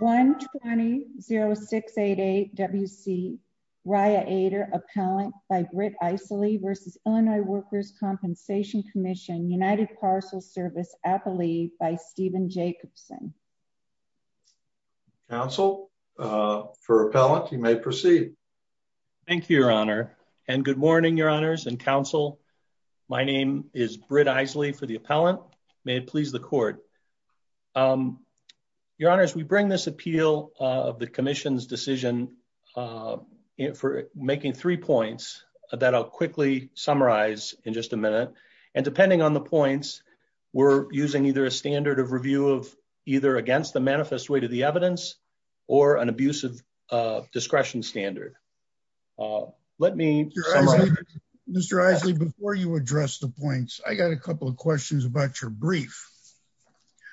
120-0688-WC, Raya Ader, Appellant by Britt Eisele v. Illinois Workers' Compensation Commission, United Parcel Service, Appalachia, by Stephen Jacobson. Counsel, for Appellant, you may proceed. Thank you, Your Honor, and good morning, Your Honors and Counsel. My name is Britt Eisele for the Appellant. May it please the Court. Your Honors, we bring this appeal of the Commission's decision for making three points that I'll quickly summarize in just a minute, and depending on the points, we're using either a standard of review of either against the manifest weight of the evidence or an abusive discretion standard. Let me... Mr. Eisele, before you address the points, I got a couple of questions about your brief.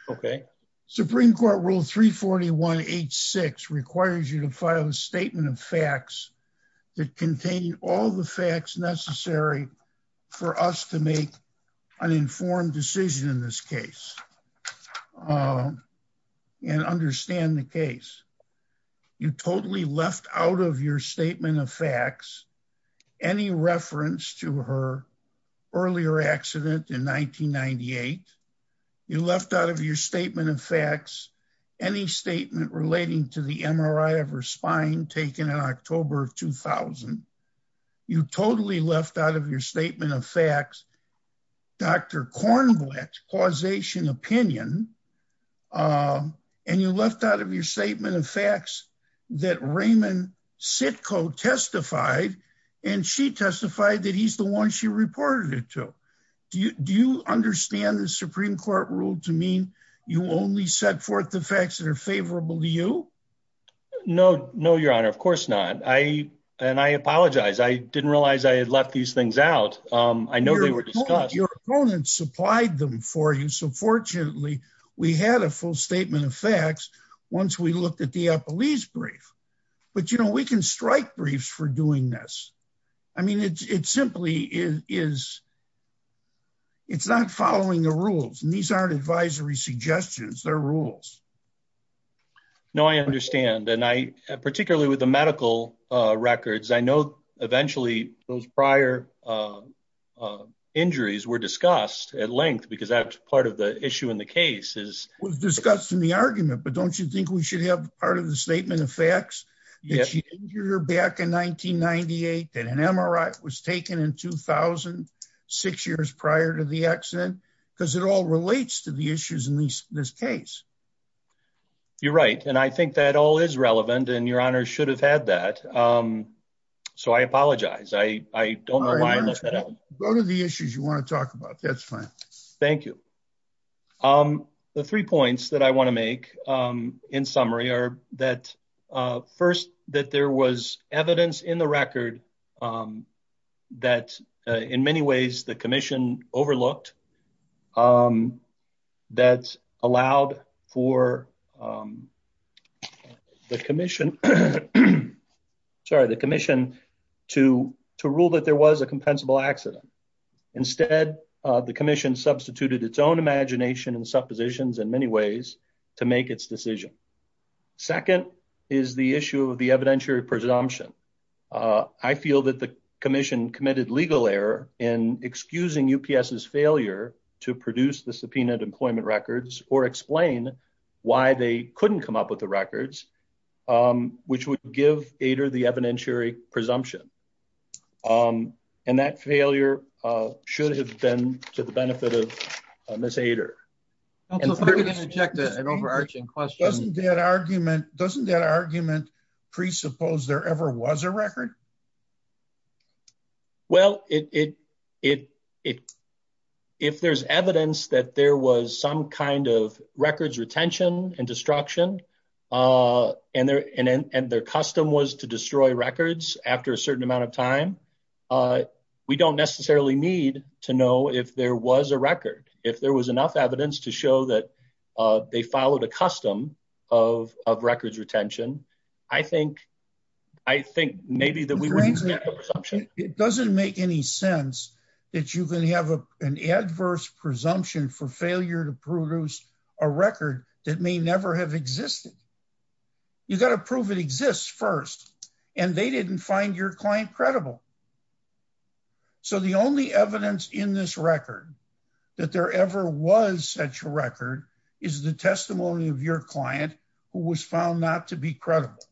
Okay. Supreme Court Rule 341H6 requires you to file a statement of facts that contain all the facts necessary for us to make an informed decision in this case and understand the case. You totally left out of your statement of facts any reference to her earlier accident in 1998. You left out of your statement of facts any statement relating to the MRI of her spine taken in October of 2000. You totally left out of your statement of facts Dr. Kornblatt's causation opinion, and you left out of your statement of facts that Raymond Sitko testified and she testified that he's the one she reported it to. Do you understand the Supreme Court Rule to mean you only set forth the facts that are favorable to you? No, no, Your Honor. Of course not. I, and I apologize. I didn't realize I had left these things out. I know they were discussed. Your opponents supplied them for you. So fortunately we had a full statement of facts once we looked at the Eppley's brief, but you know, we can strike briefs for doing this. I mean, it's, it's simply is, is it's not following the rules and these aren't advisory suggestions. They're rules. No, I understand. And I, particularly with the medical records, I know eventually those prior injuries were discussed at length because that's part of the issue in the case is was discussed in the argument, but don't you think we should have part of the statement of facts that she injured her back in 1998, that an MRI was taken in 2000, six years prior to the accident, because it all relates to the issues in this case. You're right. And I think that all is relevant and Your Honor should have had that. So I apologize. I, I don't know why I left that out. Go to the issues you want to talk about. That's fine. Thank you. The three points that I want to make in summary are that first, that there was evidence in the record that in many ways the commission overlooked that allowed for um, the commission, sorry, the commission to, to rule that there was a compensable accident. Instead of the commission substituted its own imagination and suppositions in many ways to make its decision. Second is the issue of the evidentiary presumption. I feel that the commission committed legal error in excusing UPS is failure to produce the subpoena employment records or explain why they couldn't come up with the records, um, which would give Ader the evidentiary presumption. Um, and that failure, uh, should have been to the benefit of Ms. Ader. I'm going to interject an overarching question. Doesn't that argument, doesn't that argument presuppose there ever was a record? Well, it, it, it, it, if there's evidence that there was some kind of records retention and destruction, uh, and their, and, and their custom was to destroy records after a certain amount of time, uh, we don't necessarily need to know if there was a record, if there was enough evidence to show that, uh, they followed a custom of, of records retention. I think, I think maybe It doesn't make any sense that you can have an adverse presumption for failure to produce a record that may never have existed. You got to prove it exists first and they didn't find your client credible. So the only evidence in this record that there ever was such a record is the testimony of your client who was found not to be credible.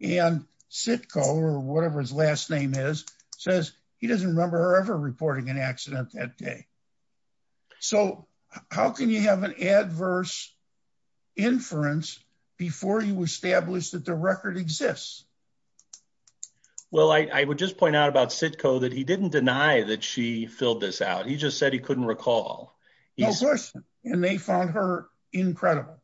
And Sitko or whatever his last name is, says he doesn't remember her ever reporting an accident that day. So how can you have an adverse inference before you established that the record exists? Well, I would just point out about Sitko that he didn't deny that she filled this out. He just said he couldn't recall. And they found her incredible.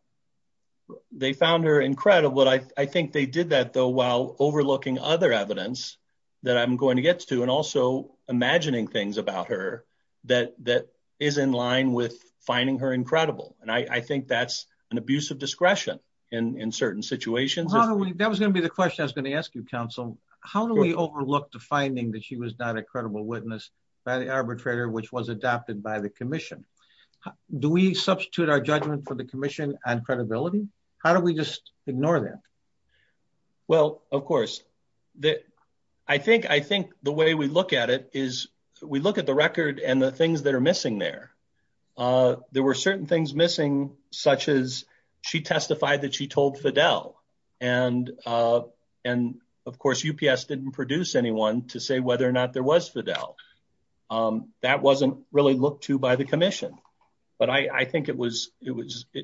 They found her incredible. I think they did that though, while overlooking other evidence that I'm going to get to, and also imagining things about her that, that is in line with finding her incredible. And I think that's an abuse of discretion in certain situations. That was going to be the question I was going to ask you counsel, how do we overlook the finding that she was not a credible witness by the arbitrator, which was adopted by the commission? Do we substitute our judgment for the commission and credibility? How do we just ignore that? Well, of course. I think the way we look at it is we look at the record and the things that are missing there. There were certain things missing, such as she testified that she told Fidel. And of course, UPS didn't produce anyone to say whether or not there was Fidel. That wasn't really looked to by the commission, but I think it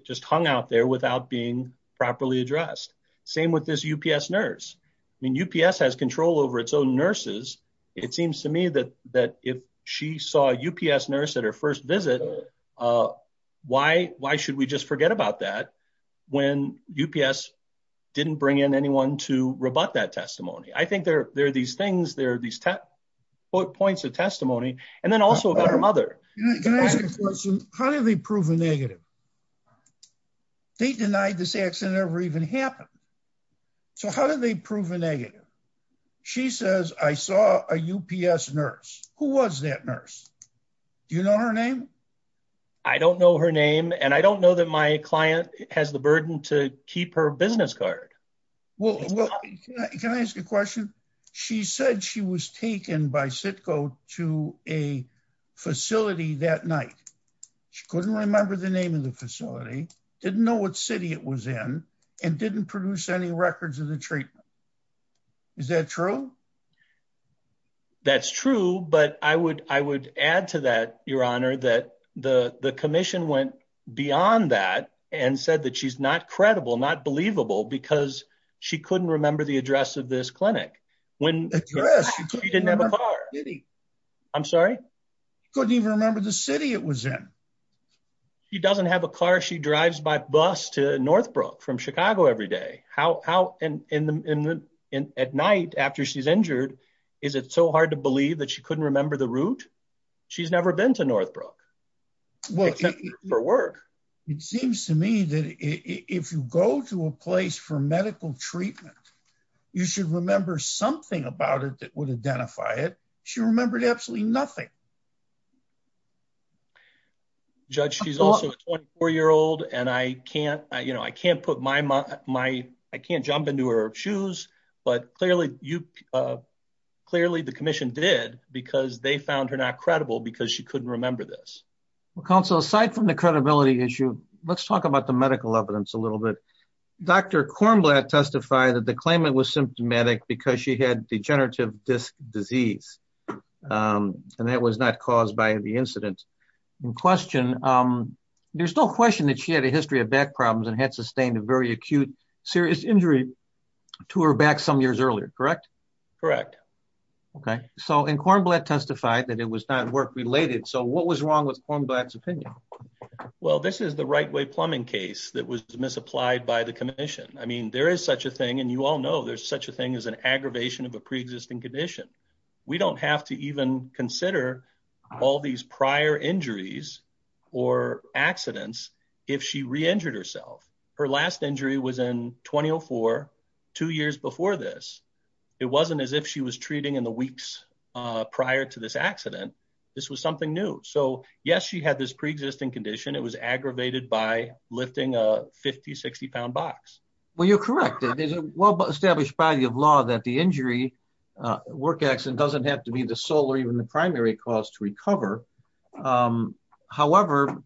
just hung out there without being properly addressed. Same with this UPS nurse. I mean, UPS has control over its own nurses. It seems to me that if she saw a UPS nurse at her first visit, why should we just forget about that when UPS didn't bring in anyone to rebut that these points of testimony. And then also about her mother. Can I ask you a question? How did they prove a negative? They denied this accident ever even happened. So how did they prove a negative? She says, I saw a UPS nurse. Who was that nurse? Do you know her name? I don't know her name. And I don't know that my client has the burden to keep her business card. Well, can I ask you a question? She said she was taken by CITCO to a facility that night. She couldn't remember the name of the facility, didn't know what city it was in, and didn't produce any records of the treatment. Is that true? That's true. But I would add to that, Your Honor, that the commission went beyond that and said that she's not credible, not believable, because she couldn't remember the address of this clinic. She didn't have a car. I'm sorry? Couldn't even remember the city it was in. She doesn't have a car. She drives by bus to Northbrook from Chicago every day. At night after she's injured, is it so hard to believe that she couldn't remember the route? She's never been to Northbrook, except for work. It seems to me that if you go to a place for medical treatment, you should remember something about it that would identify it. She remembered absolutely nothing. Judge, she's also a 24-year-old, and I can't jump into her shoes. But clearly, the commission did because they found her not credible because she couldn't remember this. Well, counsel, aside from the credibility issue, let's talk about the medical evidence a little bit. Dr. Kornblatt testified that the claimant was symptomatic because she had degenerative disc disease, and that was not caused by the incident in question. There's no question that she had a history of back problems and had sustained a very acute, serious injury to her back some years earlier, correct? Correct. Okay. And Kornblatt testified that it was not work-related, so what was wrong with Kornblatt's opinion? Well, this is the right-way plumbing case that was misapplied by the commission. I mean, there is such a thing, and you all know there's such a thing as an aggravation of a pre-existing condition. We don't have to even consider all these prior injuries or accidents if she re-injured herself. Her last injury was in 2004, two years before this. It wasn't as if she was treating in the weeks prior to this accident. This was something new. So yes, she had this pre-existing condition. It was aggravated by lifting a 50-, 60-pound box. Well, you're correct. There's a well-established body of law that the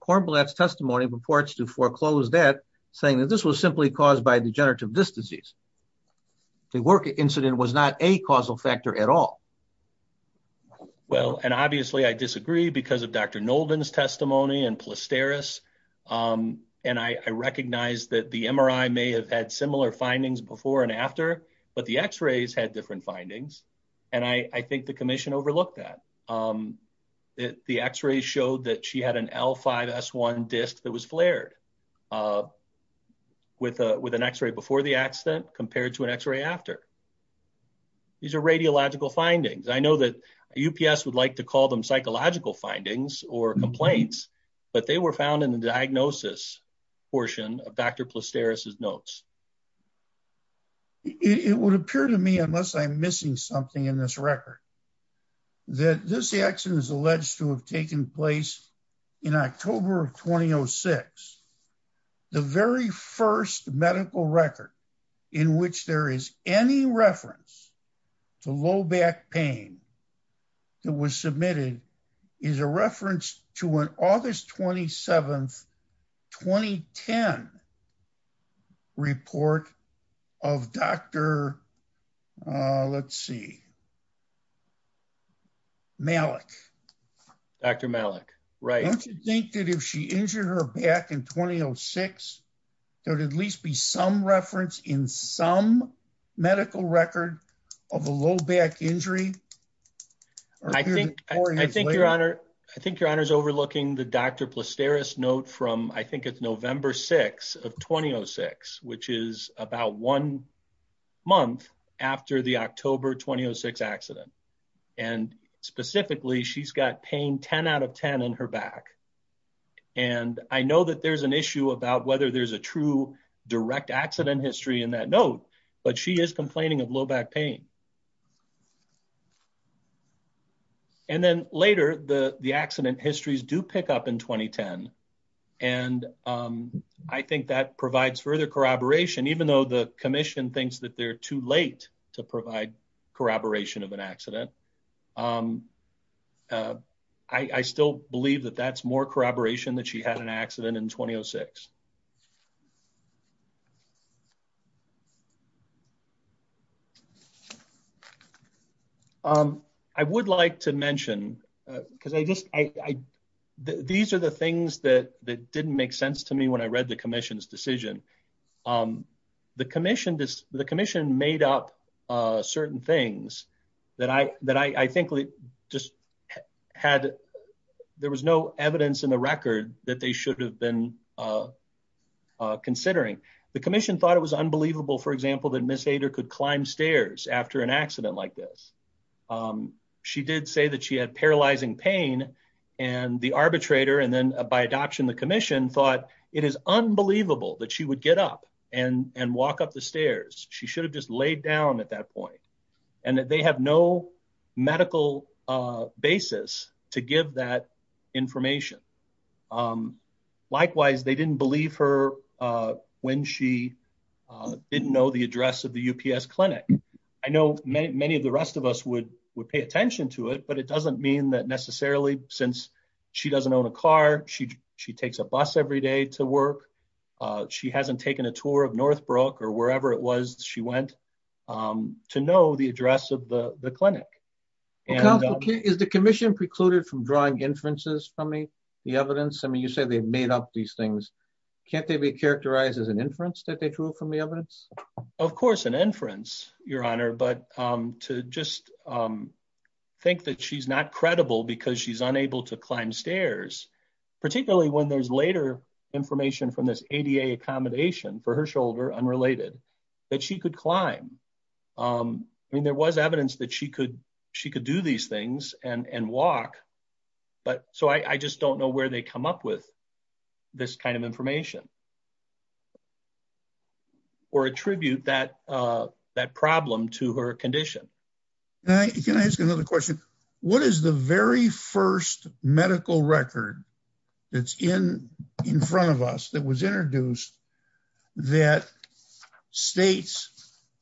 Kornblatt's testimony purports to foreclose that, saying that this was simply caused by degenerative disc disease. The work incident was not a causal factor at all. Well, and obviously, I disagree because of Dr. Nolden's testimony and Plasteris, and I recognize that the MRI may have had similar findings before and after, but the x-rays had different findings, and I think the x-rays showed that she had an L5-S1 disc that was flared with an x-ray before the accident compared to an x-ray after. These are radiological findings. I know that UPS would like to call them psychological findings or complaints, but they were found in the diagnosis portion of Dr. Plasteris' notes. It would appear to me, unless I'm missing something in this record, that this accident is taking place in October of 2006. The very first medical record in which there is any reference to low back pain that was submitted is a reference to an August 27, 2010, report of Dr. Malik. Don't you think that if she injured her back in 2006, there would at least be some reference in some medical record of a low back injury? I think Your Honor is overlooking the Dr. Plasteris' note from, I think it's November 6 of 2006, which is about one month after the October 2006 accident, and specifically, she's got pain 10 out of 10 in her back, and I know that there's an issue about whether there's a true direct accident history in that note, but she is complaining of low back pain. And then later, the accident histories do pick up in 2010, and I think that provides further corroboration, even though the commission thinks that they're too late to provide corroboration of an accident. I still believe that that's more corroboration that she had an accident in 2006. I would like to mention, because these are the things that didn't make sense to me when I read the commission's decision. The commission made up certain things that I think just had, there was no evidence in the record that they should have been considering. The commission thought it was unbelievable, for example, that Ms. Ader could climb stairs after an accident like this. She did say that she had paralyzing pain, and the arbitrator, and then by adoption, the commission thought it is unbelievable that she would get up and walk up the stairs. She should have just laid down at that point, and that they have no medical basis to give that information. Likewise, they didn't believe her when she didn't know the address of the UPS clinic. I know many of the rest of us would pay attention to it, but it doesn't mean that necessarily, since she doesn't own a car, she takes a bus every day to work. She hasn't taken a tour of Northbrook or wherever it was she went to know the address of the clinic. Is the commission precluded from drawing inferences from the evidence? You said they made up these things. Can't they be characterized as an inference that they drew from the evidence? Of course, an inference, Your Honor, but to just think that she's not credible because she's unable to climb stairs, particularly when there's later information from this ADA accommodation for her shoulder, unrelated, that she could climb. There was evidence that she could do these things and walk, but I just don't know where they come up with this kind of information or attribute that problem to her condition. Can I ask another question? What is the very first medical record that's in front of us that was introduced that states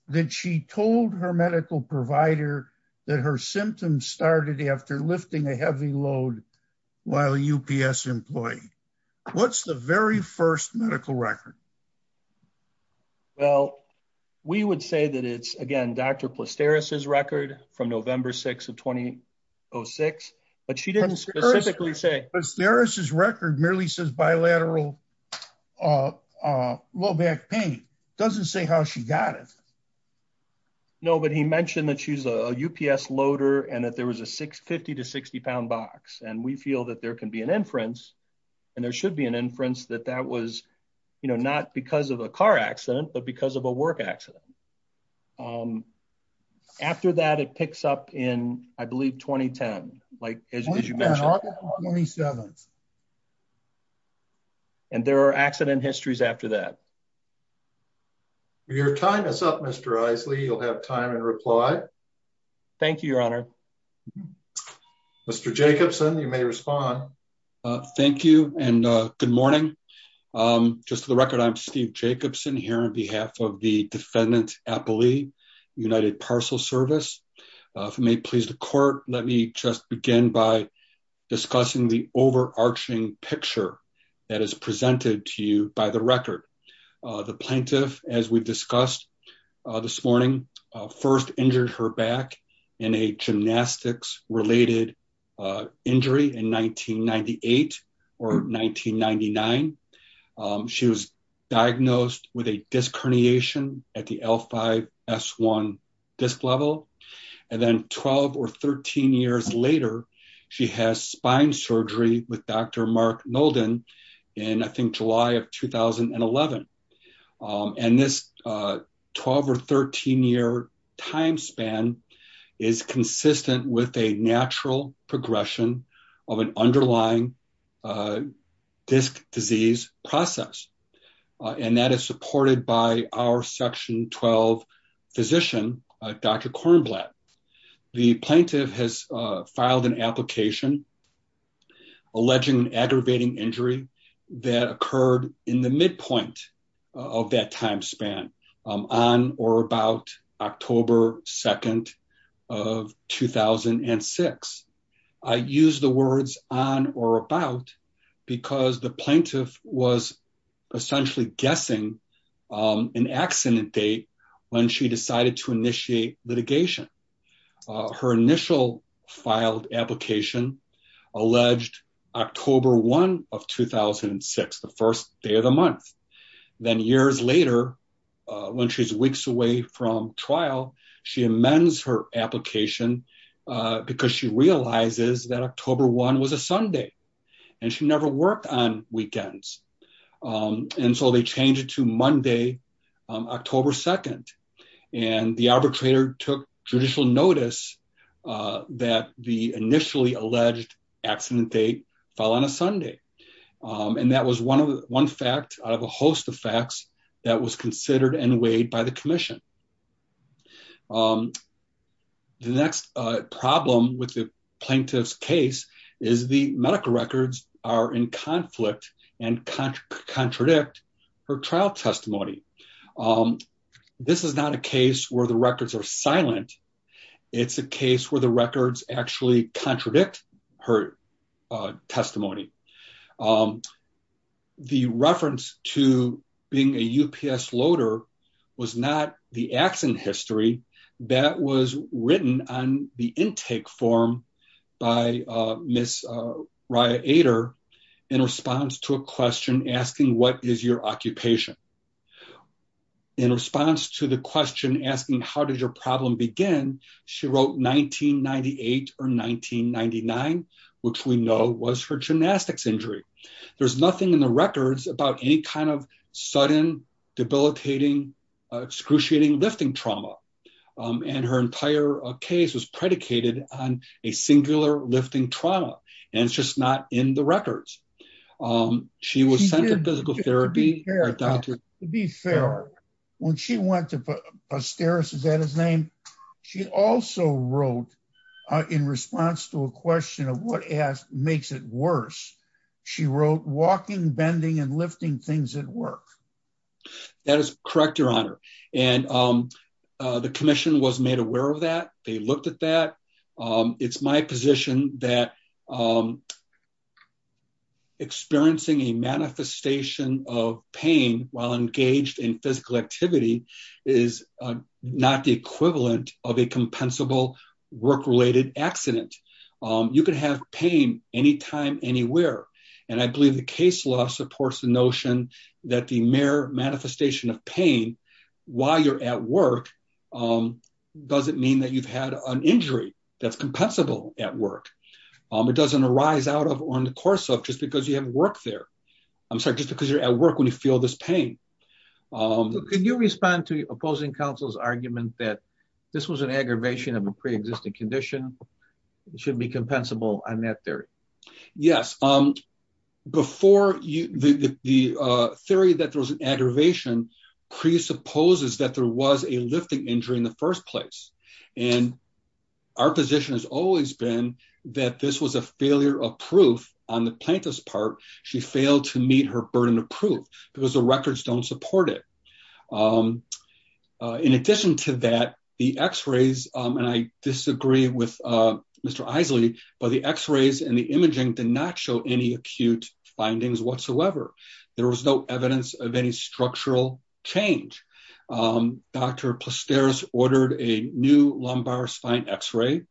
that she told her medical provider that her symptoms started after lifting a heavy load while a UPS employee? What's the very first medical record? Well, we would say that it's, again, Dr. Plasteris' record from November 6th of 2006, but she didn't specifically say. But Plasteris' record merely says bilateral low back pain. Doesn't say how she got it. No, but he mentioned that she's a UPS loader and that there was a 50 to 60 pound box, and we feel that there can be an inference, and there should be an inference that that was, you know, not because of a car accident, but because of a work accident. Um, after that, it picks up in, I believe, 2010, like, as you mentioned. 27th. And there are accident histories after that. Your time is up, Mr. Isley. You'll have time and reply. Thank you, Your Honor. Mr. Jacobson, you may respond. Thank you and good morning. Um, just for the record, I'm Steve Jacobson here on behalf of the defendant's appellee, United Parcel Service. If it may please the court, let me just begin by discussing the overarching picture that is presented to you by the record. The plaintiff, as we've discussed this morning, first injured her back in a gymnastics-related, uh, injury in 1998 or 1999. Um, she was diagnosed with a disc herniation at the L5-S1 disc level, and then 12 or 13 years later, she has spine surgery with Dr. Kornblatt in 2011. Um, and this, uh, 12 or 13 year time span is consistent with a natural progression of an underlying, uh, disc disease process. Uh, and that is supported by our section 12 physician, uh, Dr. Kornblatt. The plaintiff has, uh, filed an application alleging an aggravating injury that occurred in the midpoint of that time span, um, on or about October 2nd of 2006. I use the words on or about because the plaintiff was essentially guessing, um, an accident date when she decided to initiate litigation. Uh, her initial filed application alleged October 1 of 2006, the first day of the month. Then years later, uh, when she's weeks away from trial, she amends her application, uh, because she realizes that October 1 was a Sunday and she never worked on weekends. Um, and so they changed it to Monday, um, October 2nd, and the arbitrator took judicial notice, uh, that the initially alleged accident date fell on a Sunday. Um, and that was one of the, one fact out of a host of facts that was considered and weighed by the commission. Um, the next problem with the plaintiff's case is the medical records are in conflict and contra contradict her trial testimony. Um, this is not a case where the records are silent. It's a case where the records actually contradict her, uh, testimony. Um, the reference to being a UPS loader was not the accident history that was written on the intake form by, uh, miss, uh, Raya Ader in response to a question asking, what is your occupation? In response to the question asking, how did your problem begin? She wrote 1998 or 1999, which we know was her gymnastics injury. There's nothing in the records about any kind of sudden debilitating, excruciating lifting trauma. Um, and her entire case was predicated on a singular lifting trauma, and it's just not in the records. Um, she was sent physical therapy. To be fair, when she went to posterity, is that his name? She also wrote, uh, in response to a question of what asked makes it worse. She wrote walking, bending and lifting things at work. That is correct. Your honor. And, um, uh, the commission was made aware of that. They looked at that. Um, it's my position that, um, experiencing a manifestation of pain while engaged in physical activity is not the equivalent of a compensable work-related accident. Um, you can have pain anytime, anywhere. And I believe the case law supports the notion that the mere an injury that's compensable at work, um, it doesn't arise out of on the course of just because you haven't worked there. I'm sorry, just because you're at work when you feel this pain. Um, could you respond to opposing counsel's argument that this was an aggravation of a preexisting condition? It should be compensable on that theory. Yes. Um, before you, the, the, uh, theory that there was an aggravation presupposes that there was a lifting injury in the first place and our position has always been that this was a failure of proof on the plaintiff's part. She failed to meet her burden of proof because the records don't support it. Um, uh, in addition to that, the x-rays, um, and I disagree with, uh, Mr. Eiseley, but the x-rays and the imaging did not show any acute findings whatsoever. There was no evidence of any structural change. Um, Dr. Plaster ordered a new lumbar spine x-ray.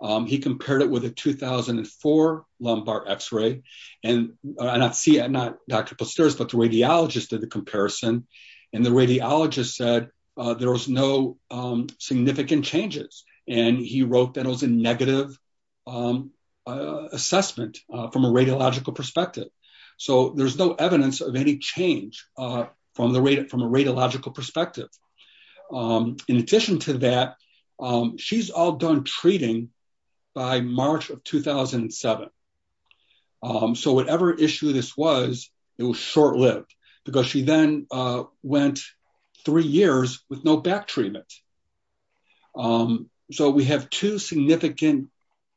Um, he compared it with a 2004 lumbar x-ray and I not see it, not Dr. Plaster, but the radiologist did the comparison and the radiologist said, uh, there was no, um, significant changes. And he wrote that it was a negative, um, uh, assessment, uh, from a radiological perspective. So there's no evidence of any change, uh, from a radiological perspective. Um, in addition to that, um, she's all done treating by March of 2007. Um, so whatever issue this was, it was short lived because she then, uh, went three years with no back treatment. Um, so we have two significant,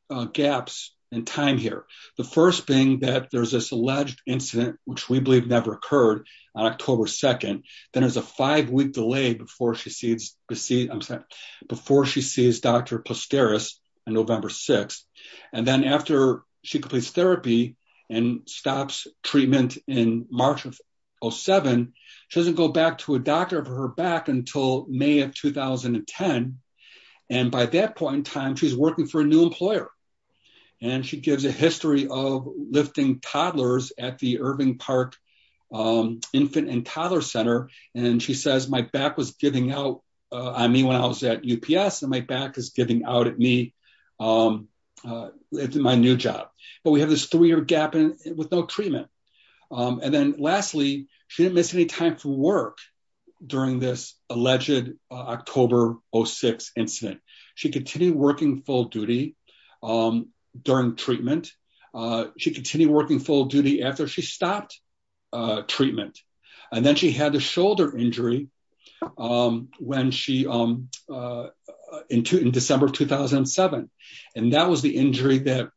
uh, gaps in time here. The first being that there's this alleged incident, which we believe never occurred on October 2nd. Then there's a five week delay before she sees, I'm sorry, before she sees Dr. Plaster in November 6th. And then after she completes therapy and stops treatment in March of 07, she doesn't go back to a doctor for her back until May of 2010. And by that point in time, she's working for a new employer and she gives a history of lifting toddlers at the Irving park, um, infant and toddler center. And she says, my back was giving out, uh, I mean, when I was at UPS and my back is giving out at me, um, uh, my new job, but we have this three-year gap with no treatment. Um, and then lastly, she didn't miss any time from work during this alleged, uh, October 06 incident. She continued working full duty, um, during treatment, uh, she continued working full duty after she stopped, uh, treatment. And then she had the shoulder injury, um, when she, um, uh, uh, in two, in December of 2007. And that was the injury that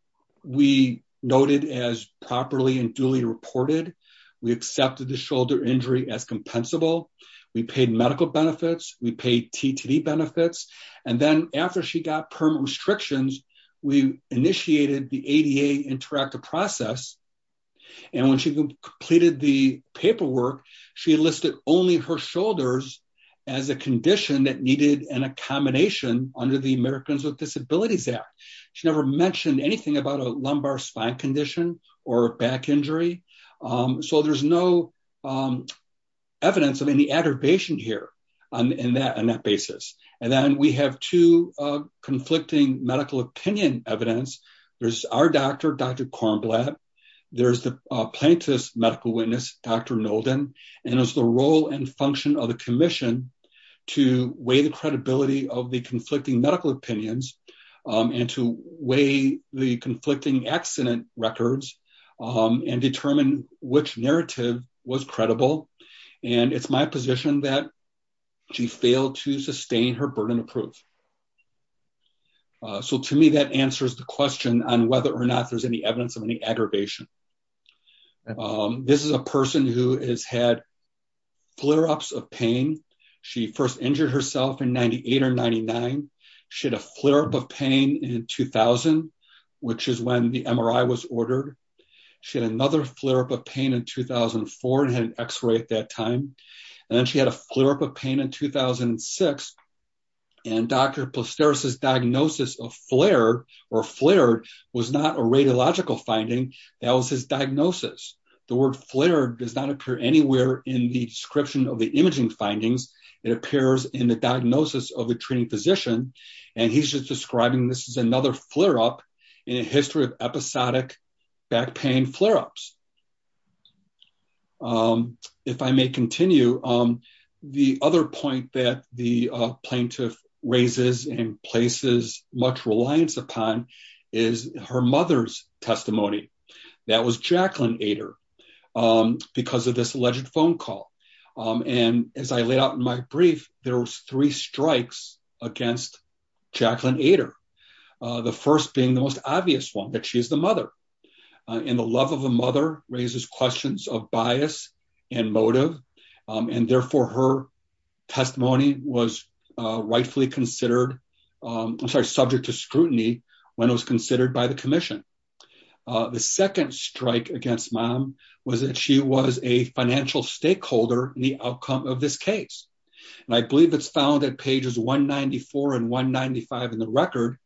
we noted as properly and duly reported. We accepted the shoulder injury as compensable. We paid medical benefits. We paid TTD benefits. And then after she got permanent restrictions, we initiated the ADA interactive process. And when she completed the paperwork, she listed only her shoulders as a condition that needed an accommodation under the Americans with Disabilities Act. She never mentioned anything about a lumbar spine condition or a back injury. Um, so there's no, um, evidence of any aggravation here on that, on that basis. And then we have two, uh, conflicting medical opinion evidence. There's our doctor, Dr. Kornblatt, there's the, uh, plaintiff's medical witness, Dr. Nolden, and it was the role and function of the commission to weigh the credibility of the conflicting medical opinions, um, and to weigh the conflicting accident records, um, and determine which narrative was credible. And it's my position that she failed to sustain her burden of proof. So to me, that answers the question on whether or not there's any evidence of any aggravation. This is a person who has had flare-ups of pain. She first injured herself in 98 or 99. She had a flare-up of pain in 2000, which is when the MRI was ordered. She had another flare-up of pain in 2004 and had an x-ray at that time. And then she had a flare-up of pain in 2006. And Dr. Plasteris' diagnosis of flare or flared was not a radiological finding. That was his diagnosis. The word flared does not appear anywhere in the description of the imaging findings. It appears in the diagnosis of the treating physician. And he's just describing this as another flare-up in a history of episodic back pain flare-ups. If I may continue, um, the other point that the plaintiff raises and places much reliance upon is her mother's testimony. That was Jacqueline Ader, um, because of this alleged phone call. And as I laid out in my brief, there was three strikes against Jacqueline Ader. The first being the most obvious one, that she is the mother. And the love of a mother raises questions of bias and motive. And therefore her testimony was rightfully considered, I'm sorry, subject to scrutiny when it was considered by the commission. The second strike against mom was that she was a stakeholder in the outcome of this case. And I believe it's found at pages 194 and 195 in the record,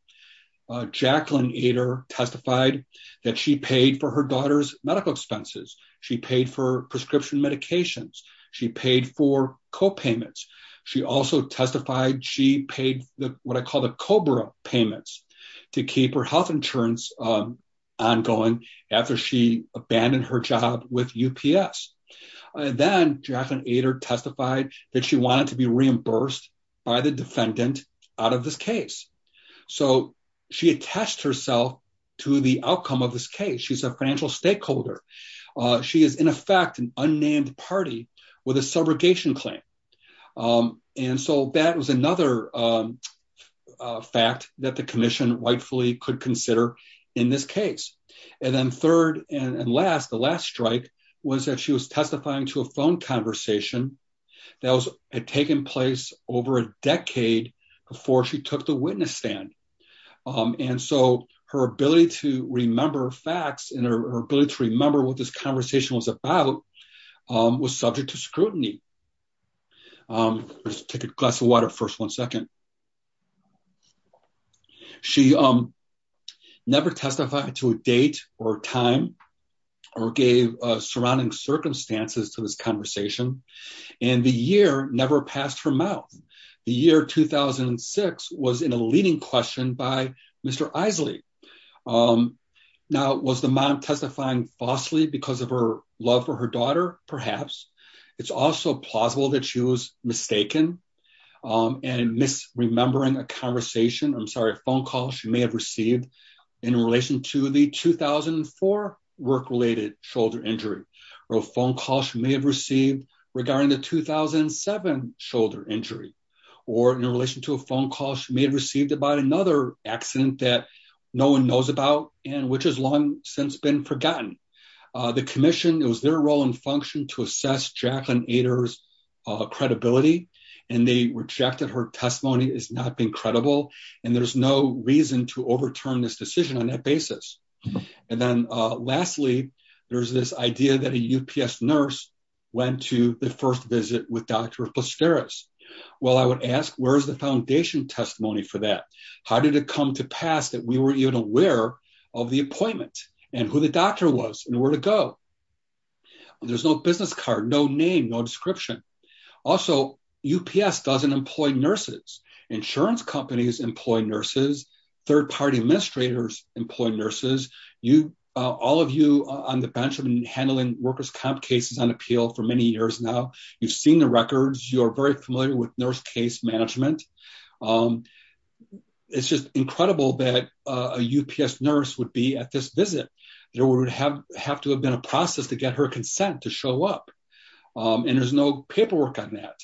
uh, Jacqueline Ader testified that she paid for her daughter's medical expenses. She paid for prescription medications. She paid for co-payments. She also testified she paid the, what I call the COBRA payments to keep her health insurance, um, ongoing after she abandoned her with UPS. Uh, then Jacqueline Ader testified that she wanted to be reimbursed by the defendant out of this case. So she attest herself to the outcome of this case. She's a financial stakeholder. She is in effect, an unnamed party with a subrogation claim. Um, and so that was another, um, uh, fact that the commission rightfully could consider in this case. And then third and last, the last strike was that she was testifying to a phone conversation that had taken place over a decade before she took the witness stand. Um, and so her ability to remember facts and her ability to remember what this conversation was about, um, was subject to scrutiny. Um, let's take a glass of water first. One second. She, um, never testified to a date or time or gave a surrounding circumstances to this conversation and the year never passed her mouth. The year 2006 was in a leading question by Mr. Isley. Um, now was the mom testifying falsely because of her love for her um, and miss remembering a conversation. I'm sorry, a phone call she may have received in relation to the 2004 work-related shoulder injury or a phone call she may have received regarding the 2007 shoulder injury, or in relation to a phone call she may have received about another accident that no one knows about and which has long since been forgotten. Uh, the commission, it was their role and function to assess Jacqueline Ader's, uh, credibility and they rejected her testimony as not being credible. And there's no reason to overturn this decision on that basis. And then, uh, lastly, there's this idea that a UPS nurse went to the first visit with Dr. Posterous. Well, I would ask where's the foundation testimony for that? How did it come to pass that we weren't even aware of the appointment and who the doctor was and where to go? There's no business card, no name, no description. Also UPS doesn't employ nurses. Insurance companies employ nurses. Third party administrators employ nurses. You, uh, all of you on the bench have been handling workers' comp cases on appeal for many years now. You've seen the records. You're very familiar with nurse case management. Um, it's just incredible that, uh, a UPS nurse would be at this visit. There would have, have to have been a process to get her consent to show up. Um, and there's no paperwork on that.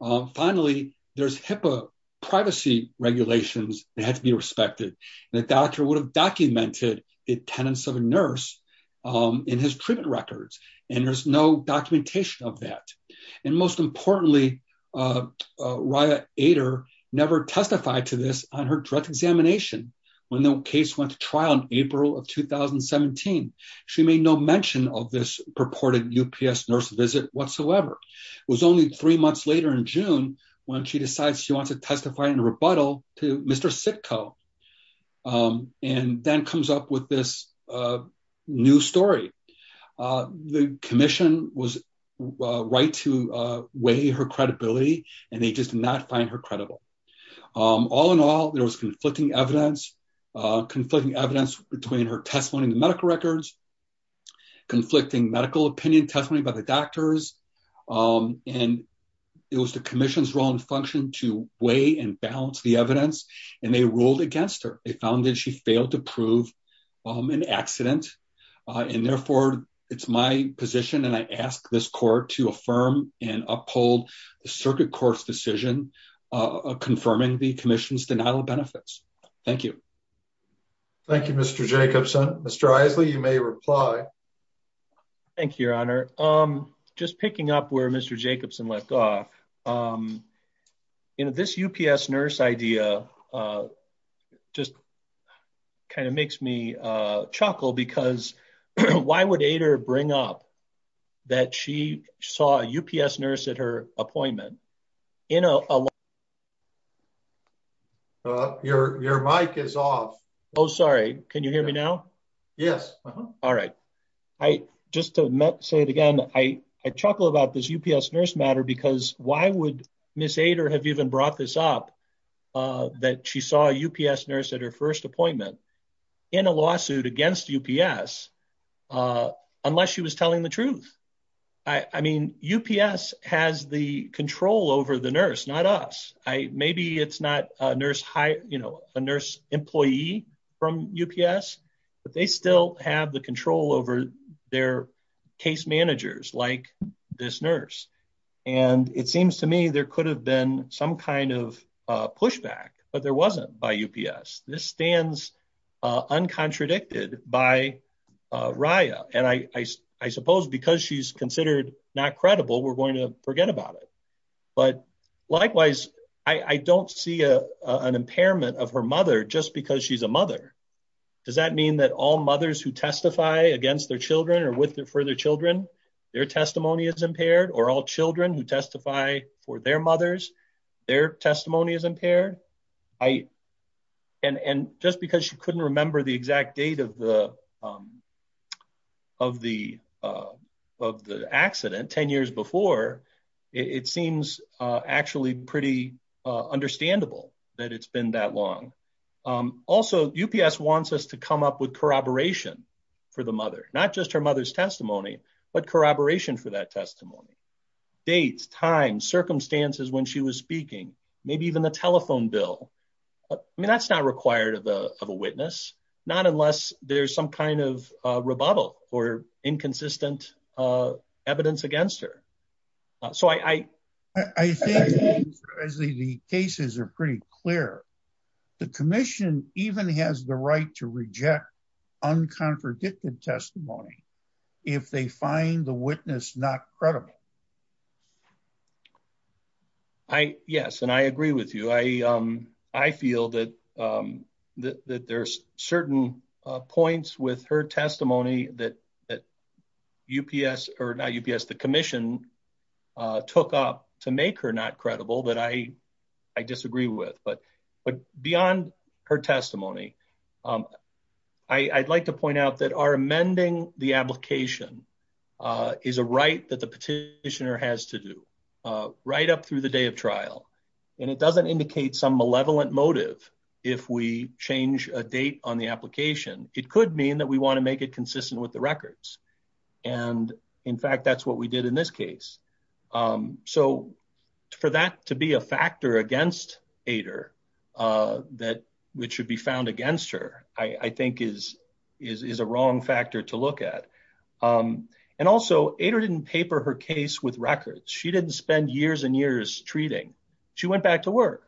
Um, finally there's HIPAA privacy regulations that had to be respected and the doctor would have documented the attendance of a nurse, um, in his treatment records. And there's no documentation of that. And most case went to trial in April of 2017. She made no mention of this purported UPS nurse visit whatsoever. It was only three months later in June when she decides she wants to testify in a rebuttal to Mr. Sitko. Um, and then comes up with this, uh, new story. Uh, the commission was right to, uh, weigh her credibility and they just did not find her credible. Um, all in all, there was conflicting evidence, uh, conflicting evidence between her testimony in the medical records, conflicting medical opinion testimony by the doctors. Um, and it was the commission's role and function to weigh and balance the evidence. And they ruled against her. They found that she failed to prove, um, an accident. Uh, and therefore it's my position. And I ask this court to affirm and uphold the circuit court's decision, uh, confirming the commission's benefits. Thank you. Thank you, Mr. Jacobson. Mr. Isley, you may reply. Thank you, your honor. Um, just picking up where Mr. Jacobson left off. Um, you know, this UPS nurse idea, uh, just kind of makes me, uh, chuckle because why would Ader bring up that she saw a UPS nurse at her appointment, you know, uh, your, your mic is off. Oh, sorry. Can you hear me now? Yes. All right. I, just to say it again, I, I chuckle about this UPS nurse matter because why would miss Ader have even brought this up? Uh, that she saw a UPS nurse at her first appointment in a lawsuit against UPS. Uh, unless she was telling the truth. I mean, UPS has the control over the nurse, not us. I, maybe it's not a nurse hire, you know, a nurse employee from UPS, but they still have the control over their case managers like this nurse. And it seems to me there could have been some kind of a pushback, but there wasn't by UPS. This stands, uh, uncontradicted by, uh, Raya. And I, I, I suppose because she's considered not credible, we're going to forget about it. But likewise, I, I don't see a, uh, an impairment of her mother just because she's a mother. Does that mean that all mothers who testify against their children or with their further children, their testimony is impaired or all children who testify for their mothers, their testimony is impaired. I, and, and just because she couldn't remember the exact date of the, um, of the, uh, of the accident 10 years before it seems, uh, actually pretty, uh, understandable that it's been that long. Um, also UPS wants us to come up with corroboration for the mother, not just her mother's testimony, but corroboration for her testimony, dates, time circumstances when she was speaking, maybe even the telephone bill. I mean, that's not required of the, of a witness, not unless there's some kind of a rebuttal or inconsistent, uh, evidence against her. Uh, so I, I, I think the cases are pretty clear. The commission even has the right to reject uncontradicted testimony if they find the witness not credible. I, yes. And I agree with you. I, um, I feel that, um, that, that there's certain points with her testimony that, that UPS or not UPS, the commission, uh, took up to make her not credible that I, I disagree with, but, but beyond her testimony, um, I I'd like to point out that our amending the application, uh, is a right that the petitioner has to do, uh, right up through the day of trial. And it doesn't indicate some malevolent motive. If we change a date on the application, it could mean that we want to make it consistent with the records. And in fact, that's what we did in this case. Um, so for that to be a factor against Ader, uh, that which should be wrong factor to look at. Um, and also Ader didn't paper her case with records. She didn't spend years and years treating. She went back to work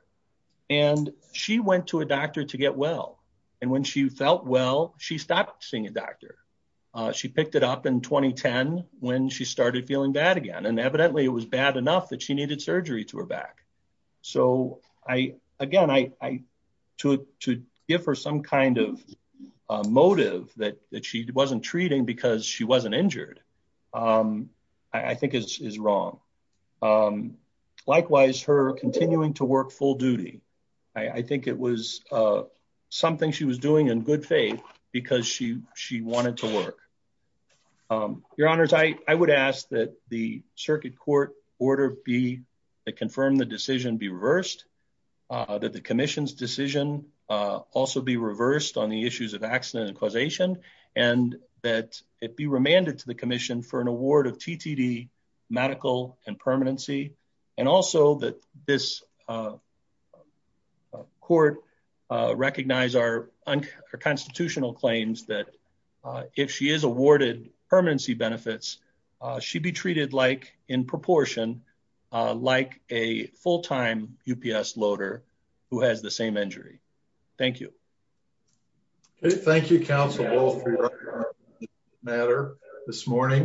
and she went to a doctor to get well. And when she felt well, she stopped seeing a doctor. Uh, she picked it up in 2010 when she started feeling bad again, and evidently it was bad enough that she needed surgery to her back. So I, again, I, I to give her some kind of, uh, motive that she wasn't treating because she wasn't injured. Um, I think is wrong. Um, likewise her continuing to work full duty. I think it was, uh, something she was doing in good faith because she, she wanted to work. Um, your honors, I, I would ask that the circuit court order be, uh, confirm the decision be reversed, uh, that the commission's decision, uh, also be reversed on the issues of accident and causation and that it be remanded to the commission for an award of TTD medical and permanency. And also that this, uh, uh, court, uh, recognize our unconstitutional claims that, uh, if she is awarded permanency benefits, uh, she'd be treated like in proportion, uh, like a full-time UPS loader who has the same injury. Thank you. Okay. Thank you. Council matter this morning.